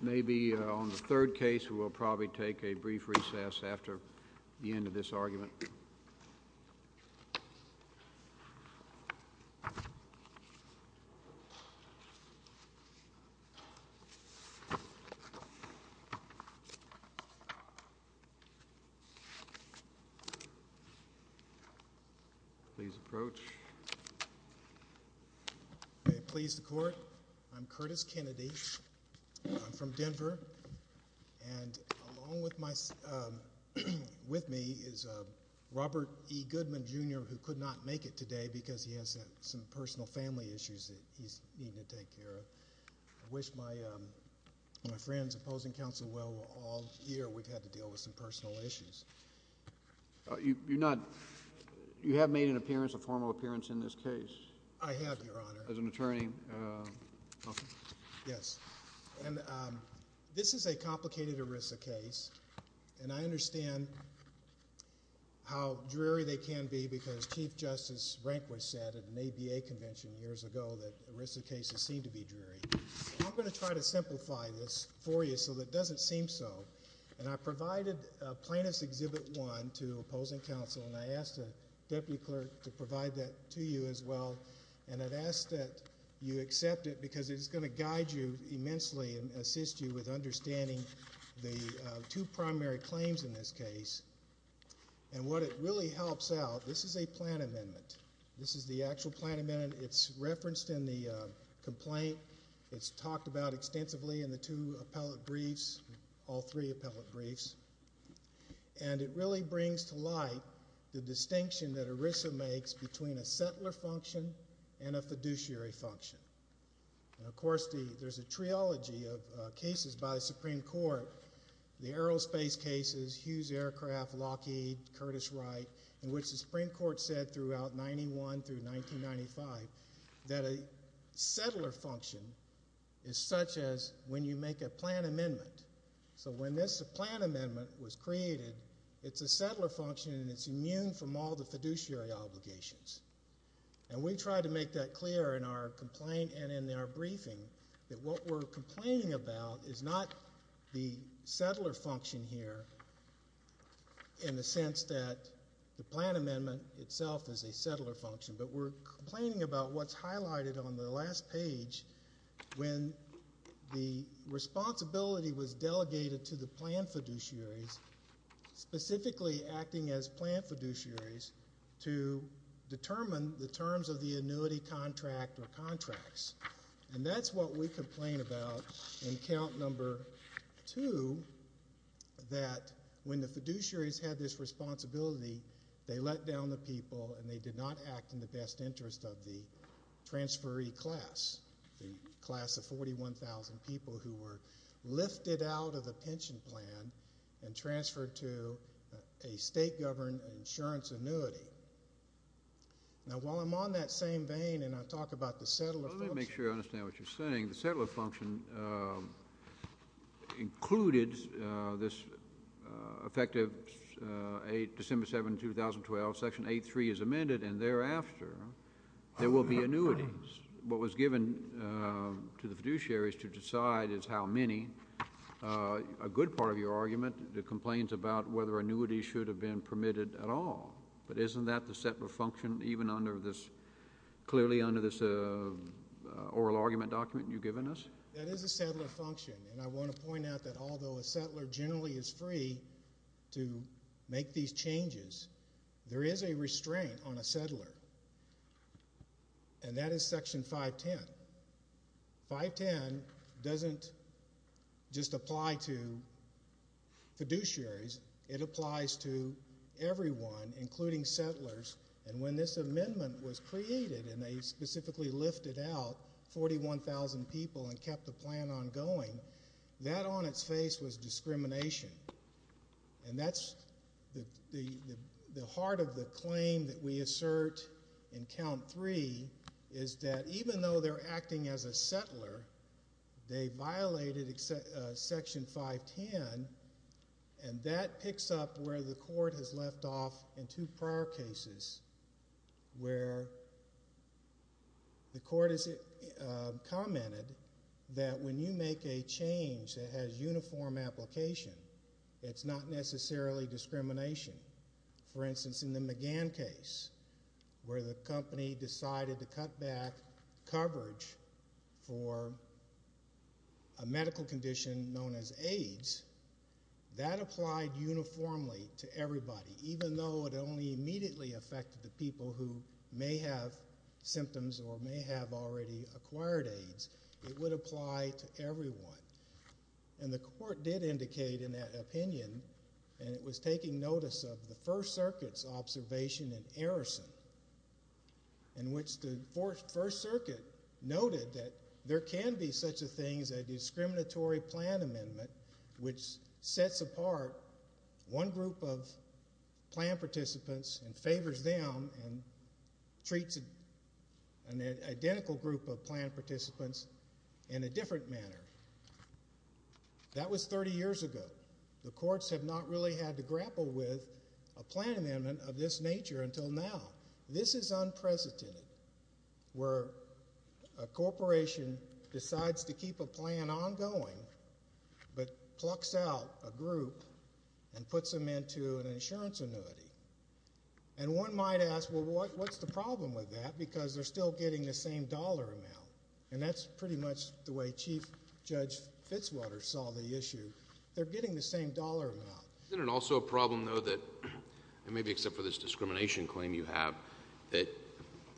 Maybe on the third case, we'll probably take a brief recess after the end of this argument. Please approach. Please the court. I'm Curtis Kennedy. I'm from Denver. And along with me is Robert E. Goodman, Jr., who could not make it today because he has some personal family issues that he's needing to take care of. I wish my friends opposing counsel well all year we've had to deal with some personal issues. You have made an appearance, a formal appearance in this case. I have, Your Honor. As an attorney. Yes. And this is a complicated ERISA case. And I understand how dreary they can be because Chief Justice Rehnquist said at an ABA convention years ago that ERISA cases seem to be dreary. I'm going to try to simplify this for you so that it doesn't seem so. And I provided Plaintiff's Exhibit 1 to opposing counsel, and I asked the deputy clerk to provide that to you as well. And I've asked that you accept it because it's going to guide you immensely and assist you with understanding the two primary claims in this case. And what it really helps out, this is a plan amendment. This is the actual plan amendment. It's referenced in the complaint. It's talked about extensively in the two appellate briefs, all three appellate briefs. And it really brings to light the distinction that ERISA makes between a settler function and a fiduciary function. And, of course, there's a triology of cases by the Supreme Court, the aerospace cases, Hughes Aircraft, Lockheed, Curtis Wright, in which the Supreme Court said throughout 91 through 1995 that a settler function is such as when you make a plan amendment. So when this plan amendment was created, it's a settler function, and it's immune from all the fiduciary obligations. And we try to make that clear in our complaint and in our briefing that what we're complaining about is not the settler function here in the sense that the plan amendment itself is a settler function, but we're complaining about what's highlighted on the last page when the responsibility was delegated to the plan fiduciaries, specifically acting as plan fiduciaries, to determine the terms of the annuity contract or contracts. And that's what we complain about in count number two, that when the fiduciaries had this responsibility, they let down the people and they did not act in the best interest of the transferee class, the class of 41,000 people who were lifted out of the pension plan and transferred to a state-governed insurance annuity. Now, while I'm on that same vein and I talk about the settler function— Let me make sure I understand what you're saying. The settler function included this effective December 7, 2012, Section 8.3 is amended, and thereafter, there will be annuities. What was given to the fiduciaries to decide is how many. A good part of your argument complains about whether annuities should have been permitted at all. But isn't that the settler function even under this—clearly under this oral argument document you've given us? That is a settler function, and I want to point out that although a settler generally is free to make these changes, there is a restraint on a settler, and that is Section 510. 510 doesn't just apply to fiduciaries. It applies to everyone, including settlers. And when this amendment was created and they specifically lifted out 41,000 people and kept the plan ongoing, that on its face was discrimination. And that's the heart of the claim that we assert in Count 3 is that even though they're acting as a settler, they violated Section 510, and that picks up where the court has left off in two prior cases where the court has commented that when you make a change that has uniform application, it's not necessarily discrimination. For instance, in the McGann case where the company decided to cut back coverage for a medical condition known as AIDS, that applied uniformly to everybody. Even though it only immediately affected the people who may have symptoms or may have already acquired AIDS, it would apply to everyone. And the court did indicate in that opinion, and it was taking notice of the First Circuit's observation in Arison, in which the First Circuit noted that there can be such a thing as a discriminatory plan amendment which sets apart one group of plan participants and favors them and treats an identical group of plan participants in a different manner. That was 30 years ago. The courts have not really had to grapple with a plan amendment of this nature until now. This is unprecedented where a corporation decides to keep a plan ongoing but plucks out a group and puts them into an insurance annuity. And one might ask, well, what's the problem with that? Because they're still getting the same dollar amount, and that's pretty much the way Chief Judge Fitzwater saw the issue. They're getting the same dollar amount. Isn't it also a problem, though, that maybe except for this discrimination claim you have, that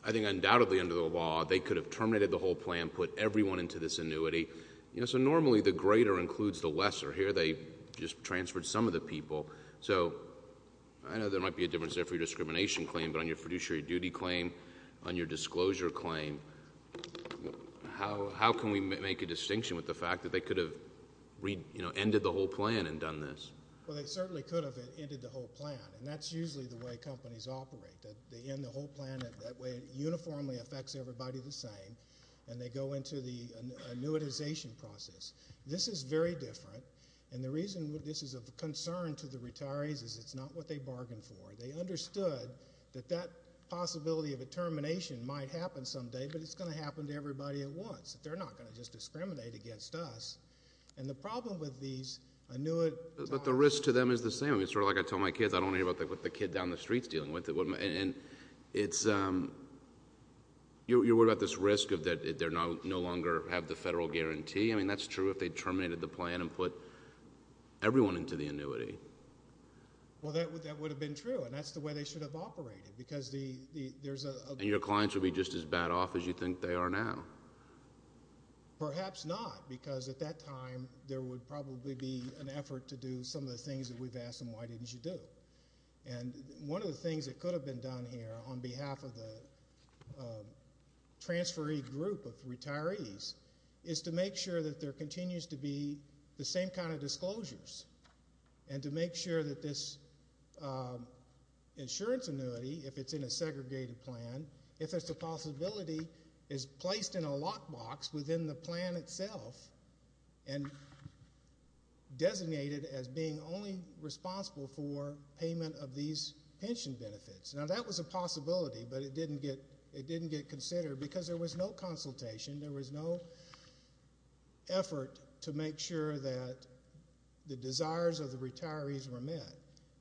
I think undoubtedly under the law they could have terminated the whole plan, put everyone into this annuity? So normally the greater includes the lesser. Here they just transferred some of the people. So I know there might be a difference there for your discrimination claim, but on your fiduciary duty claim, on your disclosure claim, how can we make a distinction with the fact that they could have ended the whole plan and done this? Well, they certainly could have ended the whole plan, and that's usually the way companies operate. They end the whole plan. That way it uniformly affects everybody the same, and they go into the annuitization process. This is very different, and the reason this is of concern to the retirees is it's not what they bargained for. They understood that that possibility of a termination might happen someday, but it's going to happen to everybody at once, that they're not going to just discriminate against us. And the problem with these annuit... But the risk to them is the same. It's sort of like I tell my kids, I don't want to hear about what the kid down the street is dealing with. And you're worried about this risk of that they no longer have the federal guarantee. I mean, that's true if they terminated the plan and put everyone into the annuity. Well, that would have been true, and that's the way they should have operated, because there's a... And your clients would be just as bad off as you think they are now. Perhaps not, because at that time there would probably be an effort to do some of the things that we've asked them, why didn't you do? And one of the things that could have been done here on behalf of the transferee group of retirees is to make sure that there continues to be the same kind of disclosures and to make sure that this insurance annuity, if it's in a segregated plan, if there's a possibility, is placed in a lockbox within the plan itself and designated as being only responsible for payment of these pension benefits. Now, that was a possibility, but it didn't get considered because there was no consultation. There was no effort to make sure that the desires of the retirees were met.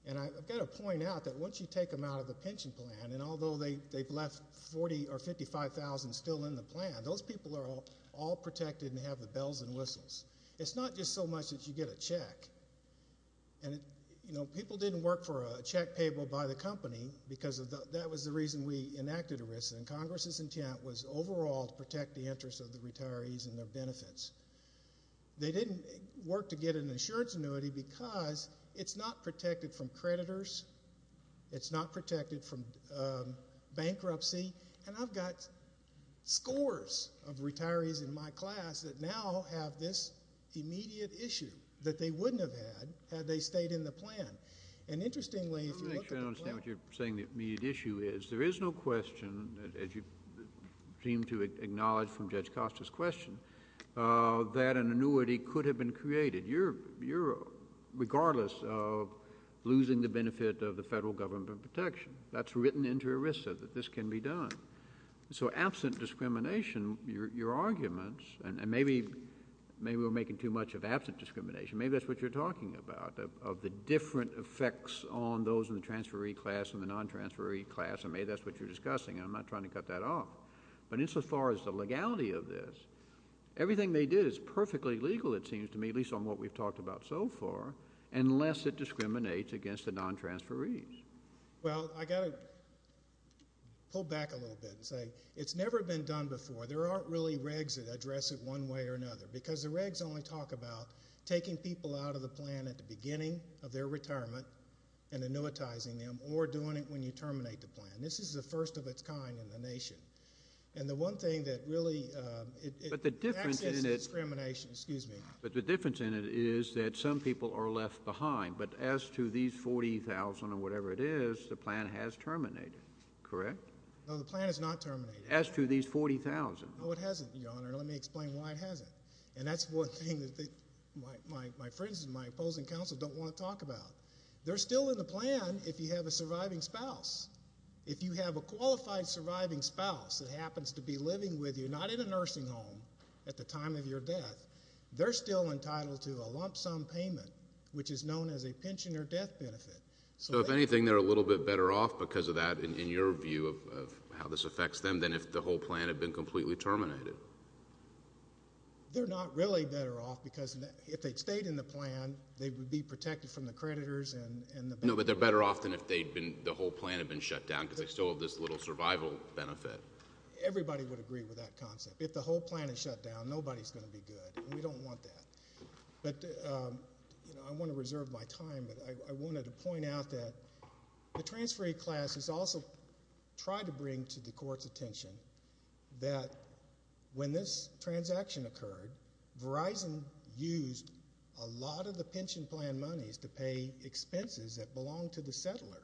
And I've got to point out that once you take them out of the pension plan, and although they've left 40 or 55,000 still in the plan, those people are all protected and have the bells and whistles. It's not just so much that you get a check. And, you know, people didn't work for a check payable by the company because that was the reason we enacted ERISA, and Congress's intent was overall to protect the interests of the retirees and their benefits. They didn't work to get an insurance annuity because it's not protected from creditors, it's not protected from bankruptcy, and I've got scores of retirees in my class that now have this immediate issue that they wouldn't have had had they stayed in the plan. And interestingly, if you look at the plan— Let me make sure I understand what you're saying the immediate issue is. There is no question, as you seem to acknowledge from Judge Costa's question, that an annuity could have been created regardless of losing the benefit of the federal government protection. That's written into ERISA that this can be done. So absent discrimination, your arguments, and maybe we're making too much of absent discrimination, maybe that's what you're talking about, of the different effects on those in the transferee class and the non-transferee class, and maybe that's what you're discussing, and I'm not trying to cut that off. But insofar as the legality of this, everything they did is perfectly legal, it seems to me, at least on what we've talked about so far, unless it discriminates against the non-transferees. Well, I've got to pull back a little bit and say it's never been done before. There aren't really regs that address it one way or another because the regs only talk about taking people out of the plan at the beginning of their retirement and annuitizing them or doing it when you terminate the plan. This is the first of its kind in the nation. And the one thing that really ‑‑ But the difference in it is that some people are left behind, but as to these 40,000 or whatever it is, the plan has terminated, correct? No, the plan has not terminated. As to these 40,000. No, it hasn't, Your Honor, and let me explain why it hasn't. And that's one thing that my friends and my opposing counsel don't want to talk about. They're still in the plan if you have a surviving spouse. If you have a qualified surviving spouse that happens to be living with you, not in a nursing home at the time of your death, they're still entitled to a lump sum payment, which is known as a pension or death benefit. So if anything, they're a little bit better off because of that, in your view, of how this affects them than if the whole plan had been completely terminated. They're not really better off because if they'd stayed in the plan, they would be protected from the creditors. No, but they're better off than if the whole plan had been shut down because they still have this little survival benefit. Everybody would agree with that concept. If the whole plan is shut down, nobody's going to be good, and we don't want that. But I want to reserve my time, but I wanted to point out that the transferring class has also tried to bring to the court's attention that when this transaction occurred, Verizon used a lot of the pension plan monies to pay expenses that belonged to the settler.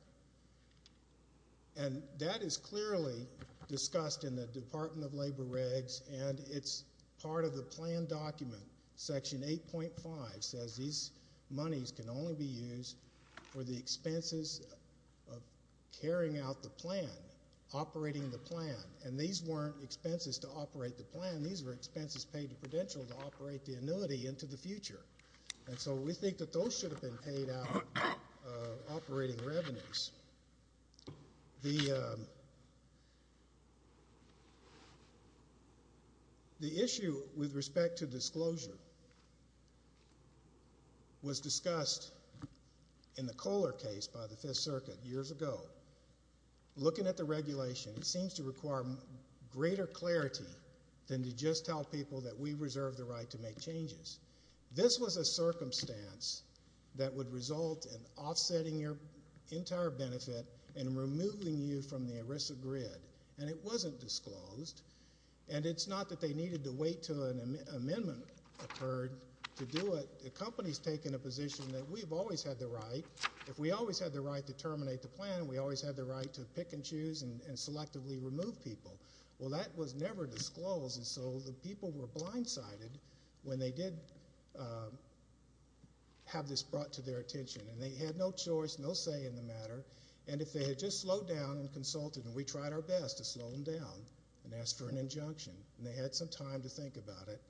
And that is clearly discussed in the Department of Labor regs, and it's part of the plan document. Section 8.5 says these monies can only be used for the expenses of carrying out the plan, operating the plan, and these weren't expenses to operate the plan. These were expenses paid to Prudential to operate the annuity into the future. And so we think that those should have been paid out of operating revenues. The issue with respect to disclosure was discussed in the Kohler case by the Fifth Circuit years ago. Looking at the regulation, it seems to require greater clarity than to just tell people that we reserve the right to make changes. This was a circumstance that would result in offsetting your entire benefit and removing you from the ERISA grid, and it wasn't disclosed. And it's not that they needed to wait until an amendment occurred to do it. The company's taken a position that we've always had the right. If we always had the right to terminate the plan, we always had the right to pick and choose and selectively remove people. Well, that was never disclosed, and so the people were blindsided when they did have this brought to their attention, and they had no choice, no say in the matter. And if they had just slowed down and consulted, and we tried our best to slow them down and asked for an injunction, and they had some time to think about it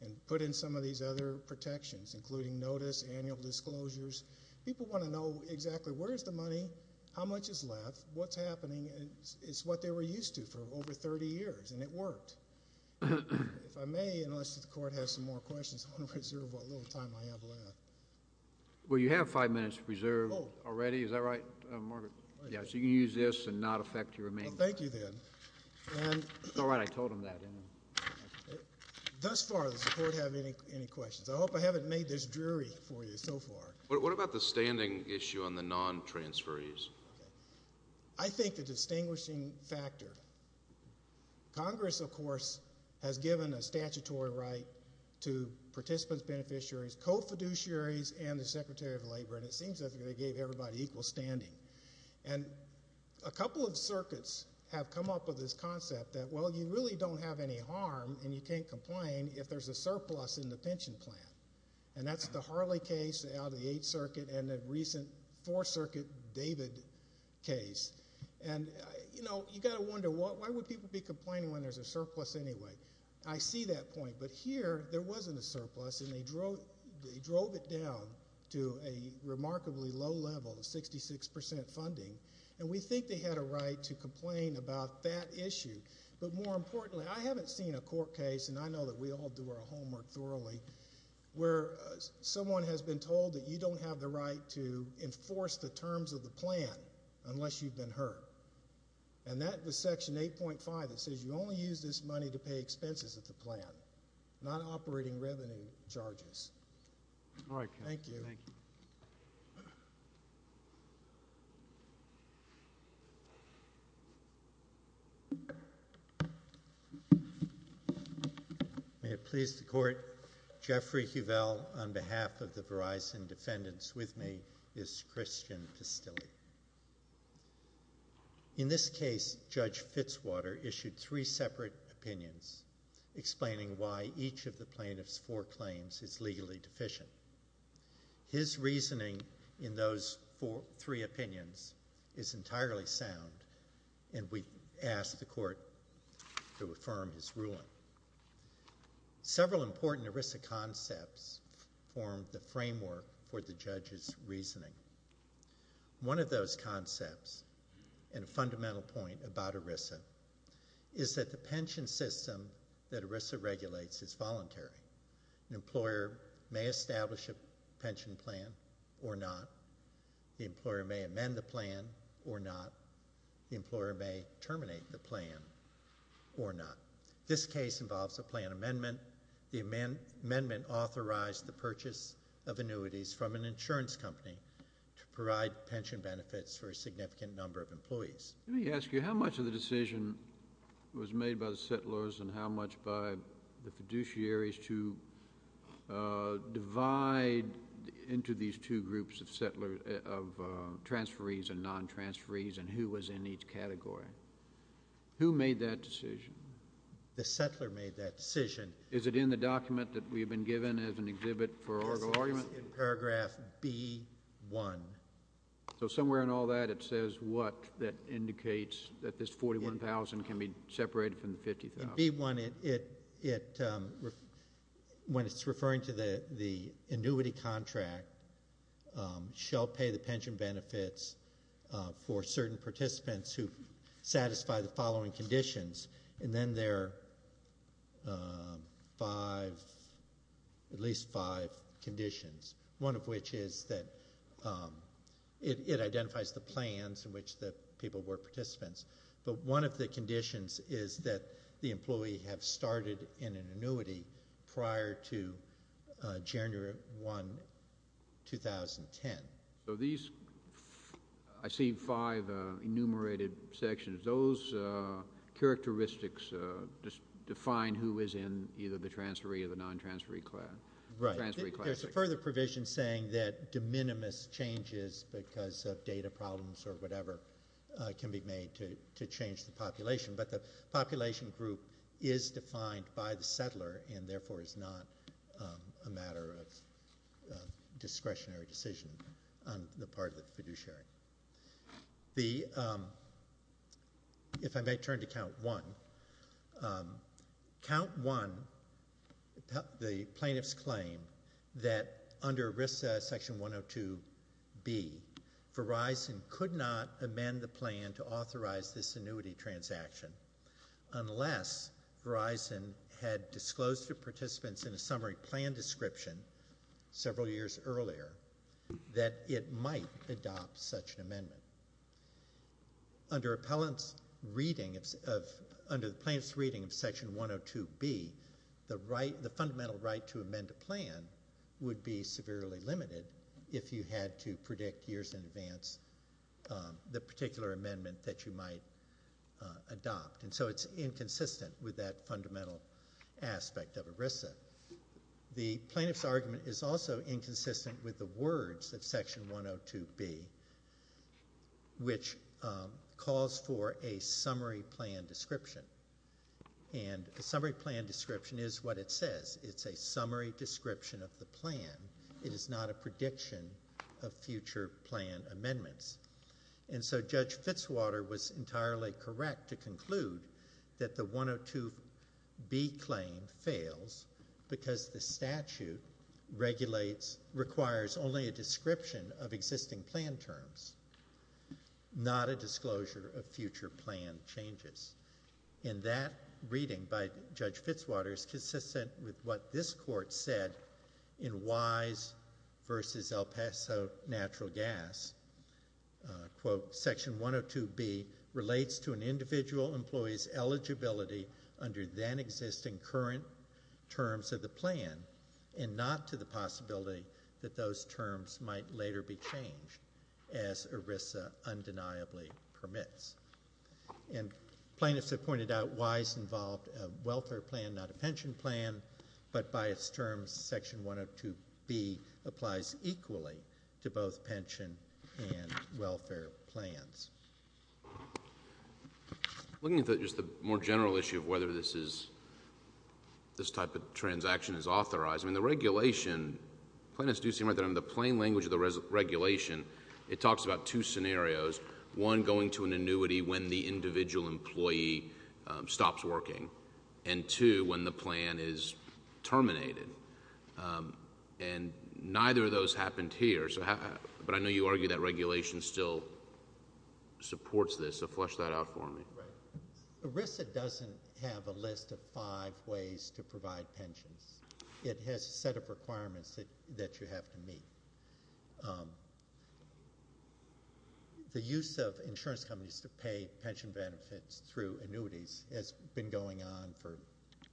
and put in some of these other protections, including notice, annual disclosures, people want to know exactly where's the money, how much is left, what's happening. It's what they were used to for over 30 years, and it worked. If I may, unless the Court has some more questions, I want to preserve what little time I have left. Well, you have five minutes to preserve already. Is that right, Margaret? Yes, you can use this and not affect your remaining time. Well, thank you then. That's all right. I told them that. Thus far, does the Court have any questions? I hope I haven't made this dreary for you so far. What about the standing issue on the non-transferees? I think the distinguishing factor. Congress, of course, has given a statutory right to participants, beneficiaries, co-fiduciaries, and the Secretary of Labor, and it seems that they gave everybody equal standing. And a couple of circuits have come up with this concept that, well, you really don't have any harm and you can't complain if there's a surplus in the pension plan. And that's the Harley case out of the Eighth Circuit and the recent Fourth Circuit David case. And, you know, you've got to wonder, why would people be complaining when there's a surplus anyway? I see that point, but here there wasn't a surplus, and they drove it down to a remarkably low level of 66% funding, and we think they had a right to complain about that issue. But more importantly, I haven't seen a court case, and I know that we all do our homework thoroughly, where someone has been told that you don't have the right to enforce the terms of the plan unless you've been hurt. And that was Section 8.5 that says you only use this money to pay expenses of the plan, not operating revenue charges. Thank you. May it please the Court. Jeffrey Huvel, on behalf of the Verizon defendants with me, is Christian Pistilli. In this case, Judge Fitzwater issued three separate opinions explaining why each of the plaintiff's four claims is legally deficient. His reasoning in those three opinions is entirely sound, and we ask the Court to affirm his ruling. Several important ERISA concepts form the framework for the judge's reasoning. One of those concepts, and a fundamental point about ERISA, is that the pension system that ERISA regulates is voluntary. An employer may establish a pension plan or not. The employer may amend the plan or not. The employer may terminate the plan or not. This case involves a plan amendment. The amendment authorized the purchase of annuities from an insurance company to provide pension benefits for a significant number of employees. Let me ask you, how much of the decision was made by the settlers and how much by the fiduciaries to divide into these two groups of settlers, of transferees and non-transferees, and who was in each category? Who made that decision? The settler made that decision. Is it in the document that we have been given as an exhibit for oral argument? Yes, it is in paragraph B-1. So somewhere in all that it says what that indicates, that this $41,000 can be separated from the $50,000. In B-1, when it's referring to the annuity contract, shall pay the pension benefits for certain participants who satisfy the following conditions. And then there are at least five conditions, one of which is that it identifies the plans in which the people were participants. But one of the conditions is that the employee have started in an annuity prior to January 1, 2010. So these, I see five enumerated sections. Those characteristics just define who is in either the transferee or the non-transferee class. Right. There's a further provision saying that de minimis changes because of data problems or whatever can be made to change the population. But the population group is defined by the settler and therefore is not a matter of discretionary decision on the part of the fiduciary. If I may turn to Count 1. Count 1, the plaintiff's claim that under RISC Section 102B, Verizon could not amend the plan to authorize this annuity transaction unless Verizon had disclosed to participants in a summary plan description several years earlier that it might adopt such an amendment. Under the plaintiff's reading of Section 102B, the fundamental right to amend a plan would be severely limited if you had to predict years in advance the particular amendment that you might adopt. And so it's inconsistent with that fundamental aspect of ERISA. The plaintiff's argument is also inconsistent with the words of Section 102B, which calls for a summary plan description. And a summary plan description is what it says. It's a summary description of the plan. It is not a prediction of future plan amendments. And so Judge Fitzwater was entirely correct to conclude that the 102B claim fails because the statute requires only a description of existing plan terms, not a disclosure of future plan changes. And that reading by Judge Fitzwater is consistent with what this court said in Wise v. El Paso Natural Gas. Quote, Section 102B relates to an individual employee's eligibility under then existing current terms of the plan and not to the possibility that those terms might later be changed, as ERISA undeniably permits. And plaintiffs have pointed out Wise involved a welfare plan, not a pension plan, but by its terms Section 102B applies equally to both pension and welfare plans. Looking at just the more general issue of whether this type of transaction is authorized, I mean, the regulation, plaintiffs do seem to have the plain language of the regulation. It talks about two scenarios, one, going to an annuity when the individual employee stops working, and two, when the plan is terminated. And neither of those happened here, but I know you argue that regulation still supports this. So flesh that out for me. Right. ERISA doesn't have a list of five ways to provide pensions. It has a set of requirements that you have to meet. The use of insurance companies to pay pension benefits through annuities has been going on for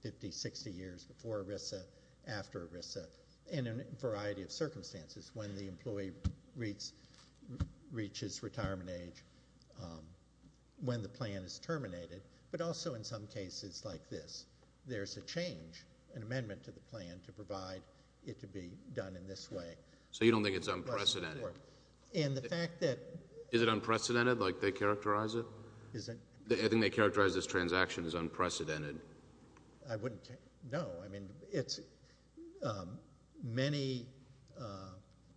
50, 60 years before ERISA, after ERISA, in a variety of circumstances, when the employee reaches retirement age, when the plan is terminated, but also in some cases like this. There's a change, an amendment to the plan to provide it to be done in this way. So you don't think it's unprecedented? And the fact that— Is it unprecedented, like they characterize it? I think they characterize this transaction as unprecedented. I wouldn't know. I mean, many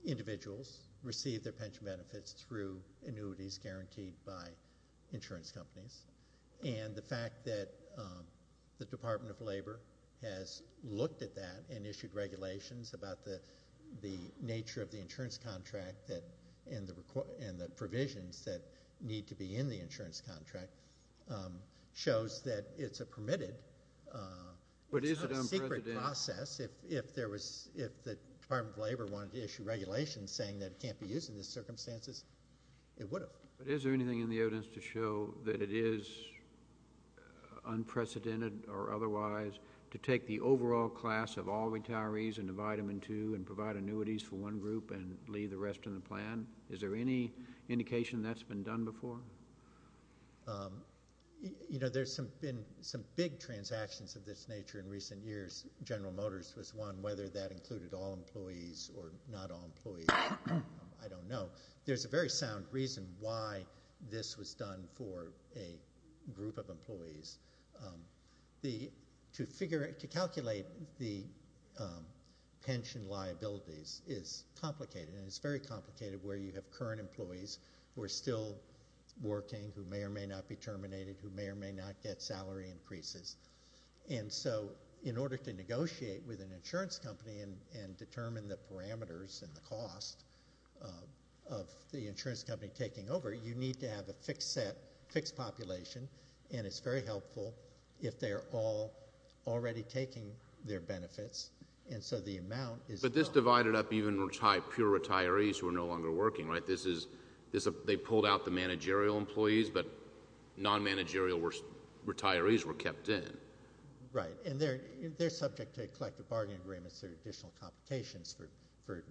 individuals receive their pension benefits through annuities guaranteed by insurance companies, and the fact that the Department of Labor has looked at that and issued regulations about the nature of the insurance contract and the provisions that need to be in the insurance contract shows that it's a permitted secret process. If the Department of Labor wanted to issue regulations saying that it can't be used in these circumstances, it would have. But is there anything in the evidence to show that it is unprecedented or otherwise to take the overall class of all retirees and divide them in two and provide annuities for one group and leave the rest in the plan? Is there any indication that's been done before? You know, there's been some big transactions of this nature in recent years. General Motors was one, whether that included all employees or not all employees, I don't know. There's a very sound reason why this was done for a group of employees. To calculate the pension liabilities is complicated, and it's very complicated where you have current employees who are still working, who may or may not be terminated, who may or may not get salary increases. And so in order to negotiate with an insurance company and determine the parameters and the cost of the insurance company taking over, you need to have a fixed set, fixed population, and it's very helpful if they're all already taking their benefits. But this divided up even pure retirees who are no longer working, right? They pulled out the managerial employees, but non-managerial retirees were kept in. Right, and they're subject to collective bargaining agreements or additional complications for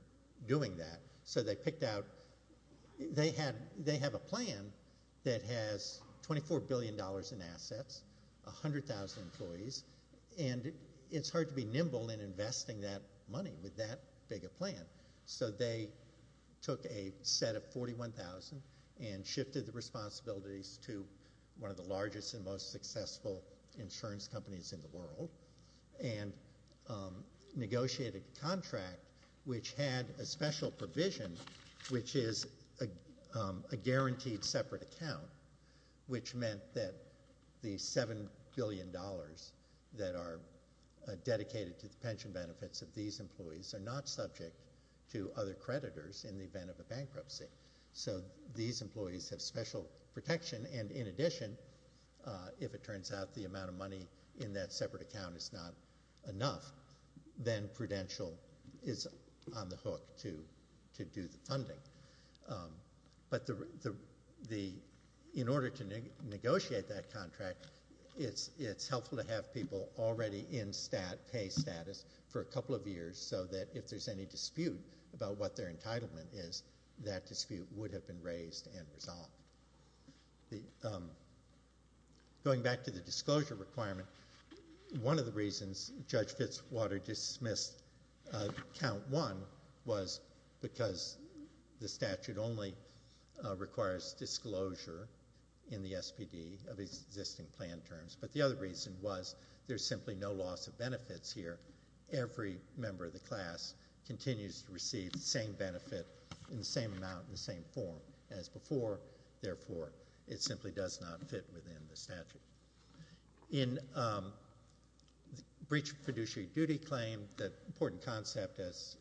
doing that. So they picked out—they have a plan that has $24 billion in assets, 100,000 employees, and it's hard to be nimble in investing that money with that big a plan. So they took a set of 41,000 and shifted the responsibilities to one of the largest and most successful insurance companies in the world and negotiated a contract which had a special provision, which is a guaranteed separate account, which meant that the $7 billion that are dedicated to the pension benefits of these employees are not subject to other creditors in the event of a bankruptcy. So these employees have special protection, and in addition, if it turns out the amount of money in that separate account is not enough, then Prudential is on the hook to do the funding. But in order to negotiate that contract, it's helpful to have people already in stat pay status for a couple of years so that if there's any dispute about what their entitlement is, that dispute would have been raised and resolved. Going back to the disclosure requirement, one of the reasons Judge Fitzwater dismissed count one was because the statute only requires disclosure in the SPD of existing plan terms. But the other reason was there's simply no loss of benefits here. Every member of the class continues to receive the same benefit in the same amount in the same form as before. Therefore, it simply does not fit within the statute. In breach of fiduciary duty claim, the important concept, as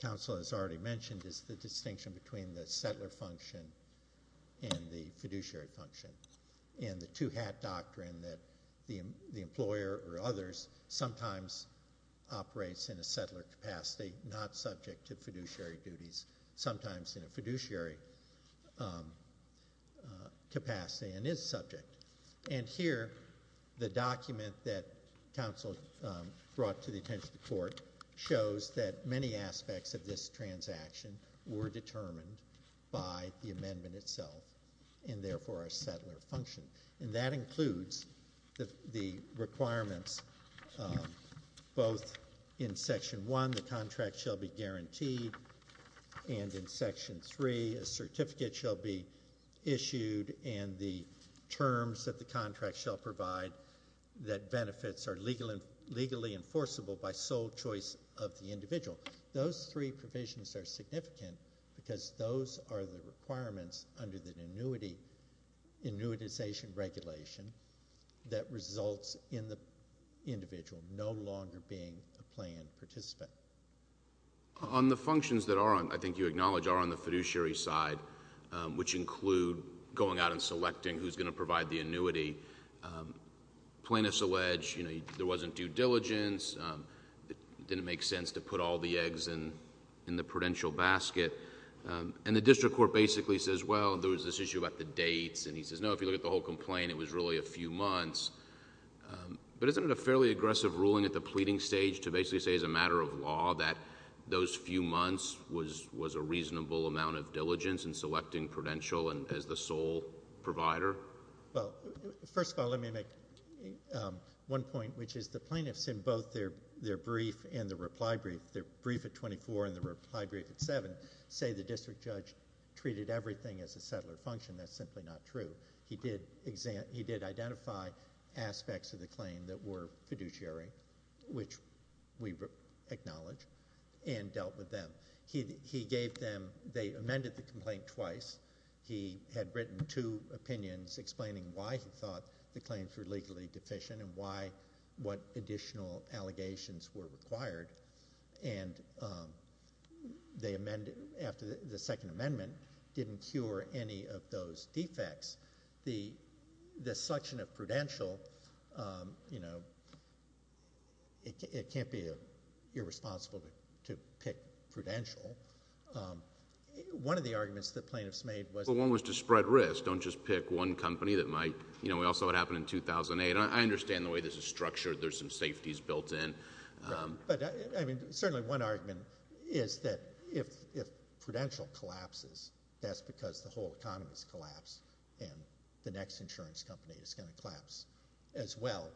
counsel has already mentioned, is the distinction between the settler function and the fiduciary function, and the two-hat doctrine that the employer or others sometimes operates in a settler capacity, not subject to fiduciary duties, sometimes in a fiduciary capacity and is subject. And here, the document that counsel brought to the attention of the court shows that many aspects of this transaction were determined by the amendment itself, and therefore our settler function. And that includes the requirements both in section one, the contract shall be guaranteed, and in section three, a certificate shall be issued and the terms that the contract shall provide that benefits are legally enforceable by sole choice of the individual. Those three provisions are significant because those are the requirements under the annuitization regulation that results in the individual no longer being a planned participant. On the functions that I think you acknowledge are on the fiduciary side, which include going out and selecting who's going to provide the annuity. Plaintiffs allege there wasn't due diligence. It didn't make sense to put all the eggs in the prudential basket. And the district court basically says, well, there was this issue about the dates, and he says, no, if you look at the whole complaint, it was really a few months. But isn't it a fairly aggressive ruling at the pleading stage to basically say as a matter of law that those few months was a reasonable amount of diligence in selecting prudential as the sole provider? Well, first of all, let me make one point, which is the plaintiffs in both their brief and their reply brief, their brief at 24 and their reply brief at 7, say the district judge treated everything as a settler function. That's simply not true. He did identify aspects of the claim that were fiduciary, which we acknowledge, and dealt with them. He gave them ‑‑ they amended the complaint twice. He had written two opinions explaining why he thought the claims were legally deficient and what additional allegations were required. And they amended ‑‑ after the second amendment didn't cure any of those defects. The selection of prudential, you know, it can't be irresponsible to pick prudential. One of the arguments the plaintiffs made was ‑‑ Well, one was to spread risk. Don't just pick one company that might ‑‑ you know, we all saw what happened in 2008. I understand the way this is structured. There's some safeties built in. But, I mean, certainly one argument is that if prudential collapses, that's because the whole economy has collapsed and the next insurance company is going to collapse as well.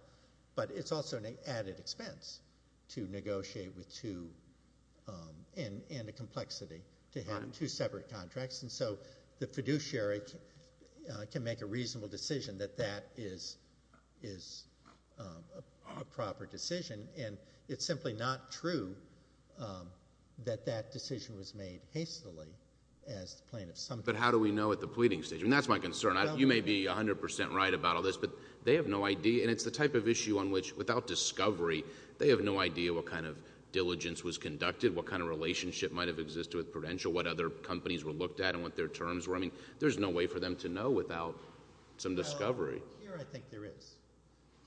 But it's also an added expense to negotiate with two and a complexity to have two separate contracts. And so the fiduciary can make a reasonable decision that that is a proper decision. And it's simply not true that that decision was made hastily as the plaintiff's assumption. But how do we know at the pleading stage? I mean, that's my concern. You may be 100% right about all this, but they have no idea. And it's the type of issue on which, without discovery, they have no idea what kind of diligence was conducted, what kind of relationship might have existed with prudential, what other companies were looked at and what their terms were. I mean, there's no way for them to know without some discovery. Well, here I think there is.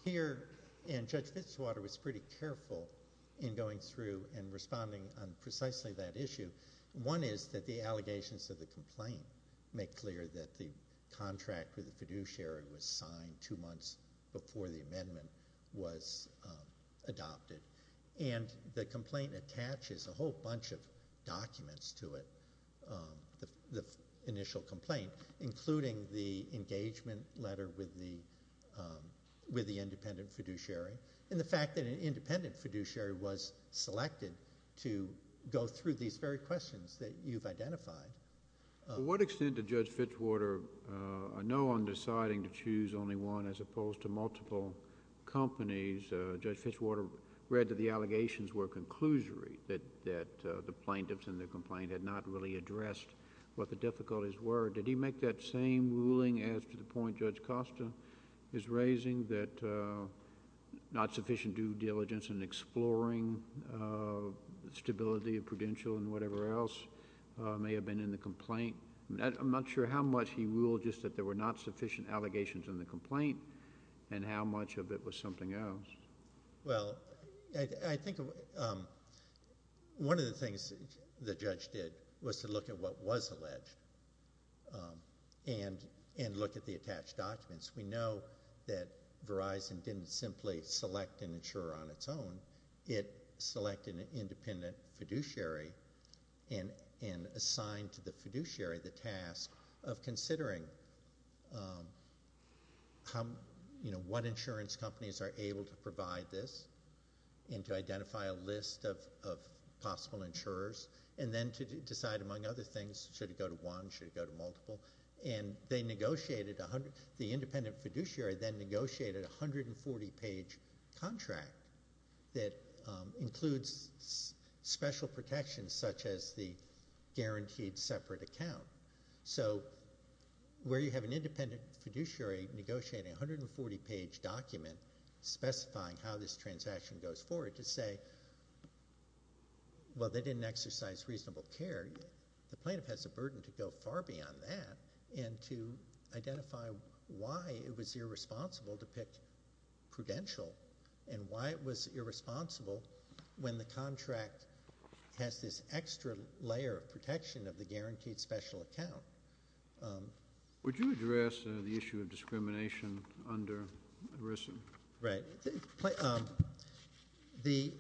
Here, and Judge Fitzwater was pretty careful in going through and responding on precisely that issue, one is that the allegations of the complaint make clear that the contract with the fiduciary was signed two months before the amendment was adopted. And the complaint attaches a whole bunch of documents to it, the initial complaint, including the engagement letter with the independent fiduciary, and the fact that an independent fiduciary was selected to go through these very questions that you've identified. To what extent did Judge Fitzwater, I know on deciding to choose only one as opposed to multiple companies, Judge Fitzwater read that the allegations were conclusory, that the plaintiffs in the complaint had not really addressed what the difficulties were. Did he make that same ruling as to the point Judge Costa is raising, that not sufficient due diligence in exploring stability of prudential and whatever else may have been in the complaint? I'm not sure how much he ruled just that there were not sufficient allegations in the complaint and how much of it was something else. Well, I think one of the things the judge did was to look at what was alleged and look at the attached documents. We know that Verizon didn't simply select an insurer on its own. It selected an independent fiduciary and assigned to the fiduciary the task of considering what insurance companies are able to provide this and to identify a list of possible insurers and then to decide, among other things, should it go to one, should it go to multiple. And the independent fiduciary then negotiated a 140-page contract that includes special protections such as the guaranteed separate account. So where you have an independent fiduciary negotiating a 140-page document specifying how this transaction goes forward to say, well, they didn't exercise reasonable care, the plaintiff has a burden to go far beyond that and to identify why it was irresponsible to pick prudential and why it was irresponsible when the contract has this extra layer of protection of the guaranteed special account. Would you address the issue of discrimination under ERISA? Right. The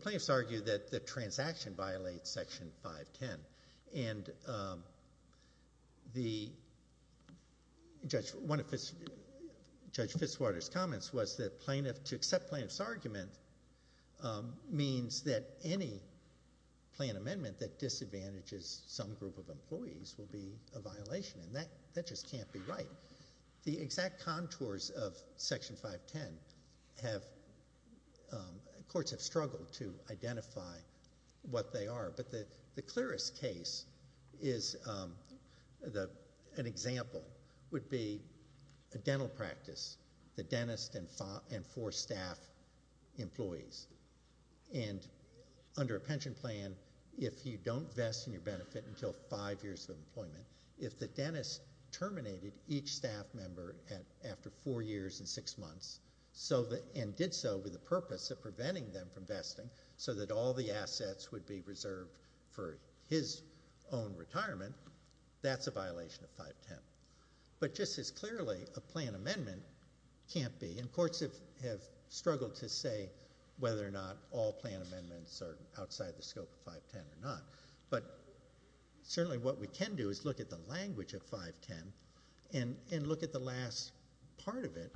plaintiffs argue that the transaction violates Section 510. And one of Judge Fitzwater's comments was that to accept plaintiff's argument means that any plan amendment that disadvantages some group of employees will be a violation, and that just can't be right. The exact contours of Section 510 have courts have struggled to identify what they are, but the clearest case is an example would be a dental practice. The dentist and four staff employees. And under a pension plan, if you don't vest in your benefit until five years of employment, if the dentist terminated each staff member after four years and six months and did so with the purpose of preventing them from vesting so that all the assets would be reserved for his own retirement, that's a violation of 510. But just as clearly, a plan amendment can't be. And courts have struggled to say whether or not all plan amendments are outside the scope of 510 or not. But certainly what we can do is look at the language of 510 and look at the last part of it,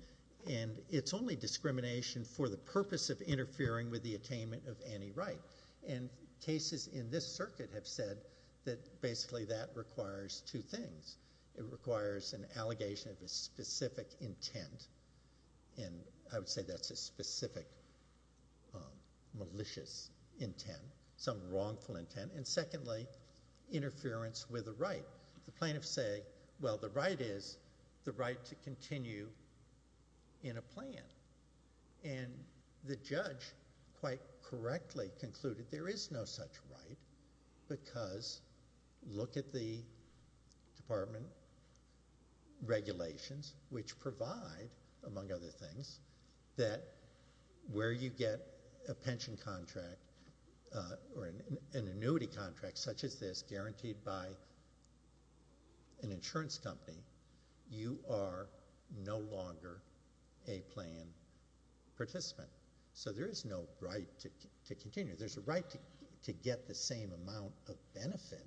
and it's only discrimination for the purpose of interfering with the attainment of any right. And cases in this circuit have said that basically that requires two things. It requires an allegation of a specific intent, and I would say that's a specific malicious intent, some wrongful intent, and secondly, interference with a right. The plaintiffs say, well, the right is the right to continue in a plan. And the judge quite correctly concluded there is no such right because look at the department regulations which provide, among other things, that where you get a pension contract or an annuity contract such as this guaranteed by an insurance company, you are no longer a plan participant. So there is no right to continue. There's a right to get the same amount of benefit,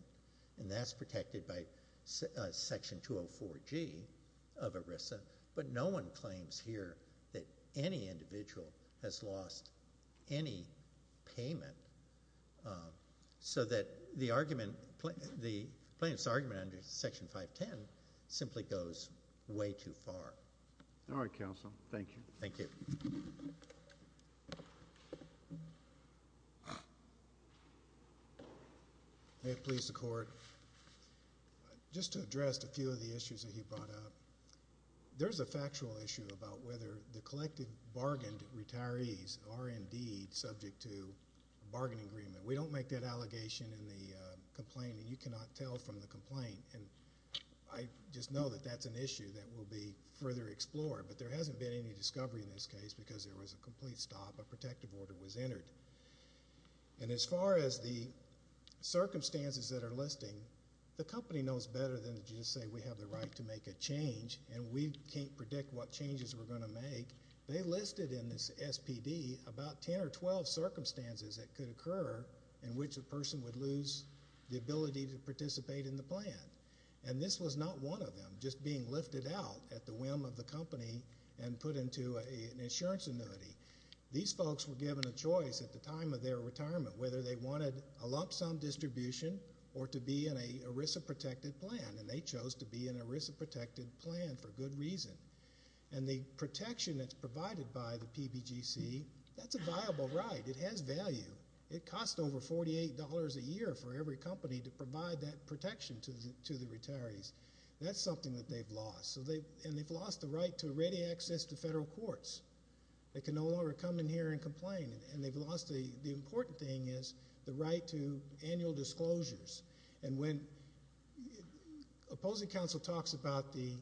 and that's protected by Section 204G of ERISA, but no one claims here that any individual has lost any payment, so that the plaintiff's argument under Section 510 simply goes way too far. All right, Counsel. Thank you. Thank you. May it please the Court. Just to address a few of the issues that you brought up, there's a factual issue about whether the collected bargained retirees are indeed subject to a bargaining agreement. We don't make that allegation in the complaint, and you cannot tell from the complaint, and I just know that that's an issue that will be further explored, but there hasn't been any discovery in this case because there was a complete stop, a protective order was entered. And as far as the circumstances that are listing, the company knows better than to just say we have the right to make a change, and we can't predict what changes we're going to make. They listed in this SPD about 10 or 12 circumstances that could occur in which a person would lose the ability to participate in the plan. And this was not one of them, just being lifted out at the whim of the company and put into an insurance annuity. These folks were given a choice at the time of their retirement, whether they wanted a lump sum distribution or to be in a ERISA-protected plan, and they chose to be in an ERISA-protected plan for good reason. And the protection that's provided by the PBGC, that's a viable right. It has value. It costs over $48 a year for every company to provide that protection to the retirees. That's something that they've lost, and they've lost the right to ready access to federal courts. They can no longer come in here and complain, and the important thing is the right to annual disclosures. And when opposing counsel talks about the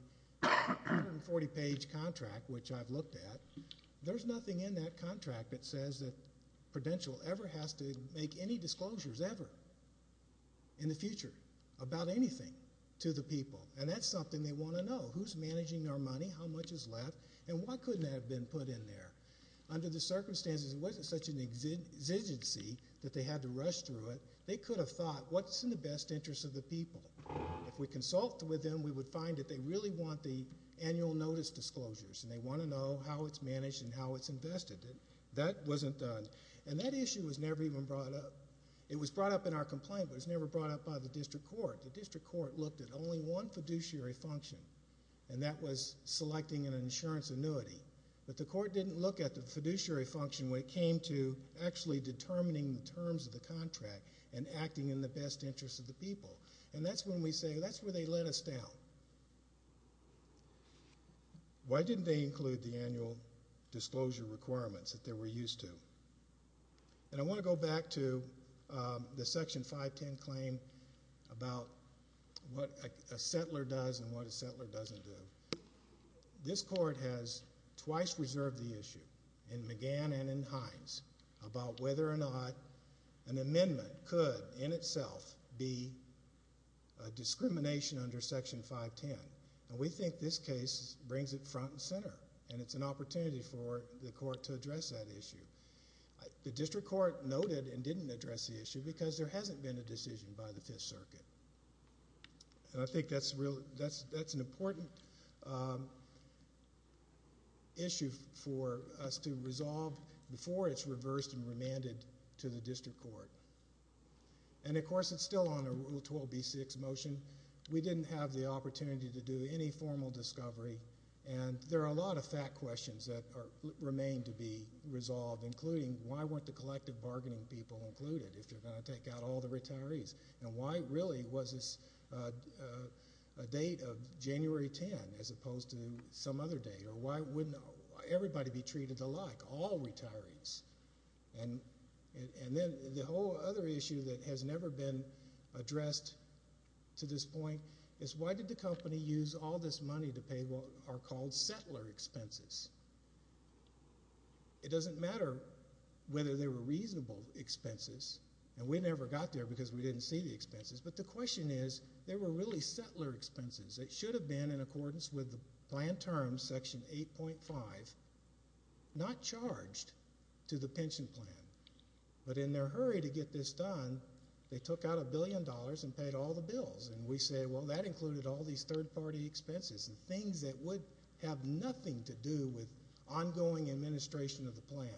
140-page contract, which I've looked at, there's nothing in that contract that says that Prudential ever has to make any disclosures ever in the future about anything to the people. And that's something they want to know, who's managing their money, how much is left, and why couldn't that have been put in there. Under the circumstances, it wasn't such an exigency that they had to rush through it. They could have thought, what's in the best interest of the people? If we consult with them, we would find that they really want the annual notice disclosures, and they want to know how it's managed and how it's invested. That wasn't done. And that issue was never even brought up. It was brought up in our complaint, but it was never brought up by the district court. The district court looked at only one fiduciary function, and that was selecting an insurance annuity. But the court didn't look at the fiduciary function when it came to actually determining the terms of the contract and acting in the best interest of the people. And that's when we say, that's where they let us down. Why didn't they include the annual disclosure requirements that they were used to? And I want to go back to the Section 510 claim about what a settler does and what a settler doesn't do. This court has twice reserved the issue, in McGann and in Hines, about whether or not an amendment could, in itself, be a discrimination under Section 510. And we think this case brings it front and center, and it's an opportunity for the court to address that issue. The district court noted and didn't address the issue because there hasn't been a decision by the Fifth Circuit. And I think that's an important issue for us to resolve before it's reversed and remanded to the district court. And, of course, it's still under Rule 12b-6 motion. We didn't have the opportunity to do any formal discovery, and there are a lot of fact questions that remain to be resolved, including why weren't the collective bargaining people included if you're going to take out all the retirees? And why really was this a date of January 10 as opposed to some other date? Or why wouldn't everybody be treated alike, all retirees? And then the whole other issue that has never been addressed to this point is, why did the company use all this money to pay what are called settler expenses? It doesn't matter whether they were reasonable expenses, and we never got there because we didn't see the expenses, but the question is, they were really settler expenses. It should have been in accordance with the plan terms, Section 8.5, not charged to the pension plan. But in their hurry to get this done, they took out a billion dollars and paid all the bills. And we say, well, that included all these third-party expenses and things that would have nothing to do with ongoing administration of the plan.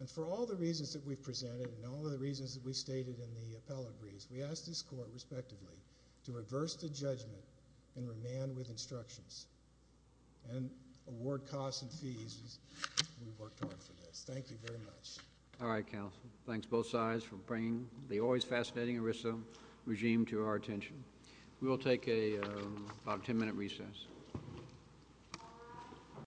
And for all the reasons that we've presented and all the reasons that we've stated in the appellate briefs, we ask this Court, respectively, to reverse the judgment and remand with instructions and award costs and fees as we've worked hard for this. Thank you very much. All right, counsel. Thanks, both sides, for bringing the always fascinating ERISA regime to our attention. We will take about a 10-minute recess.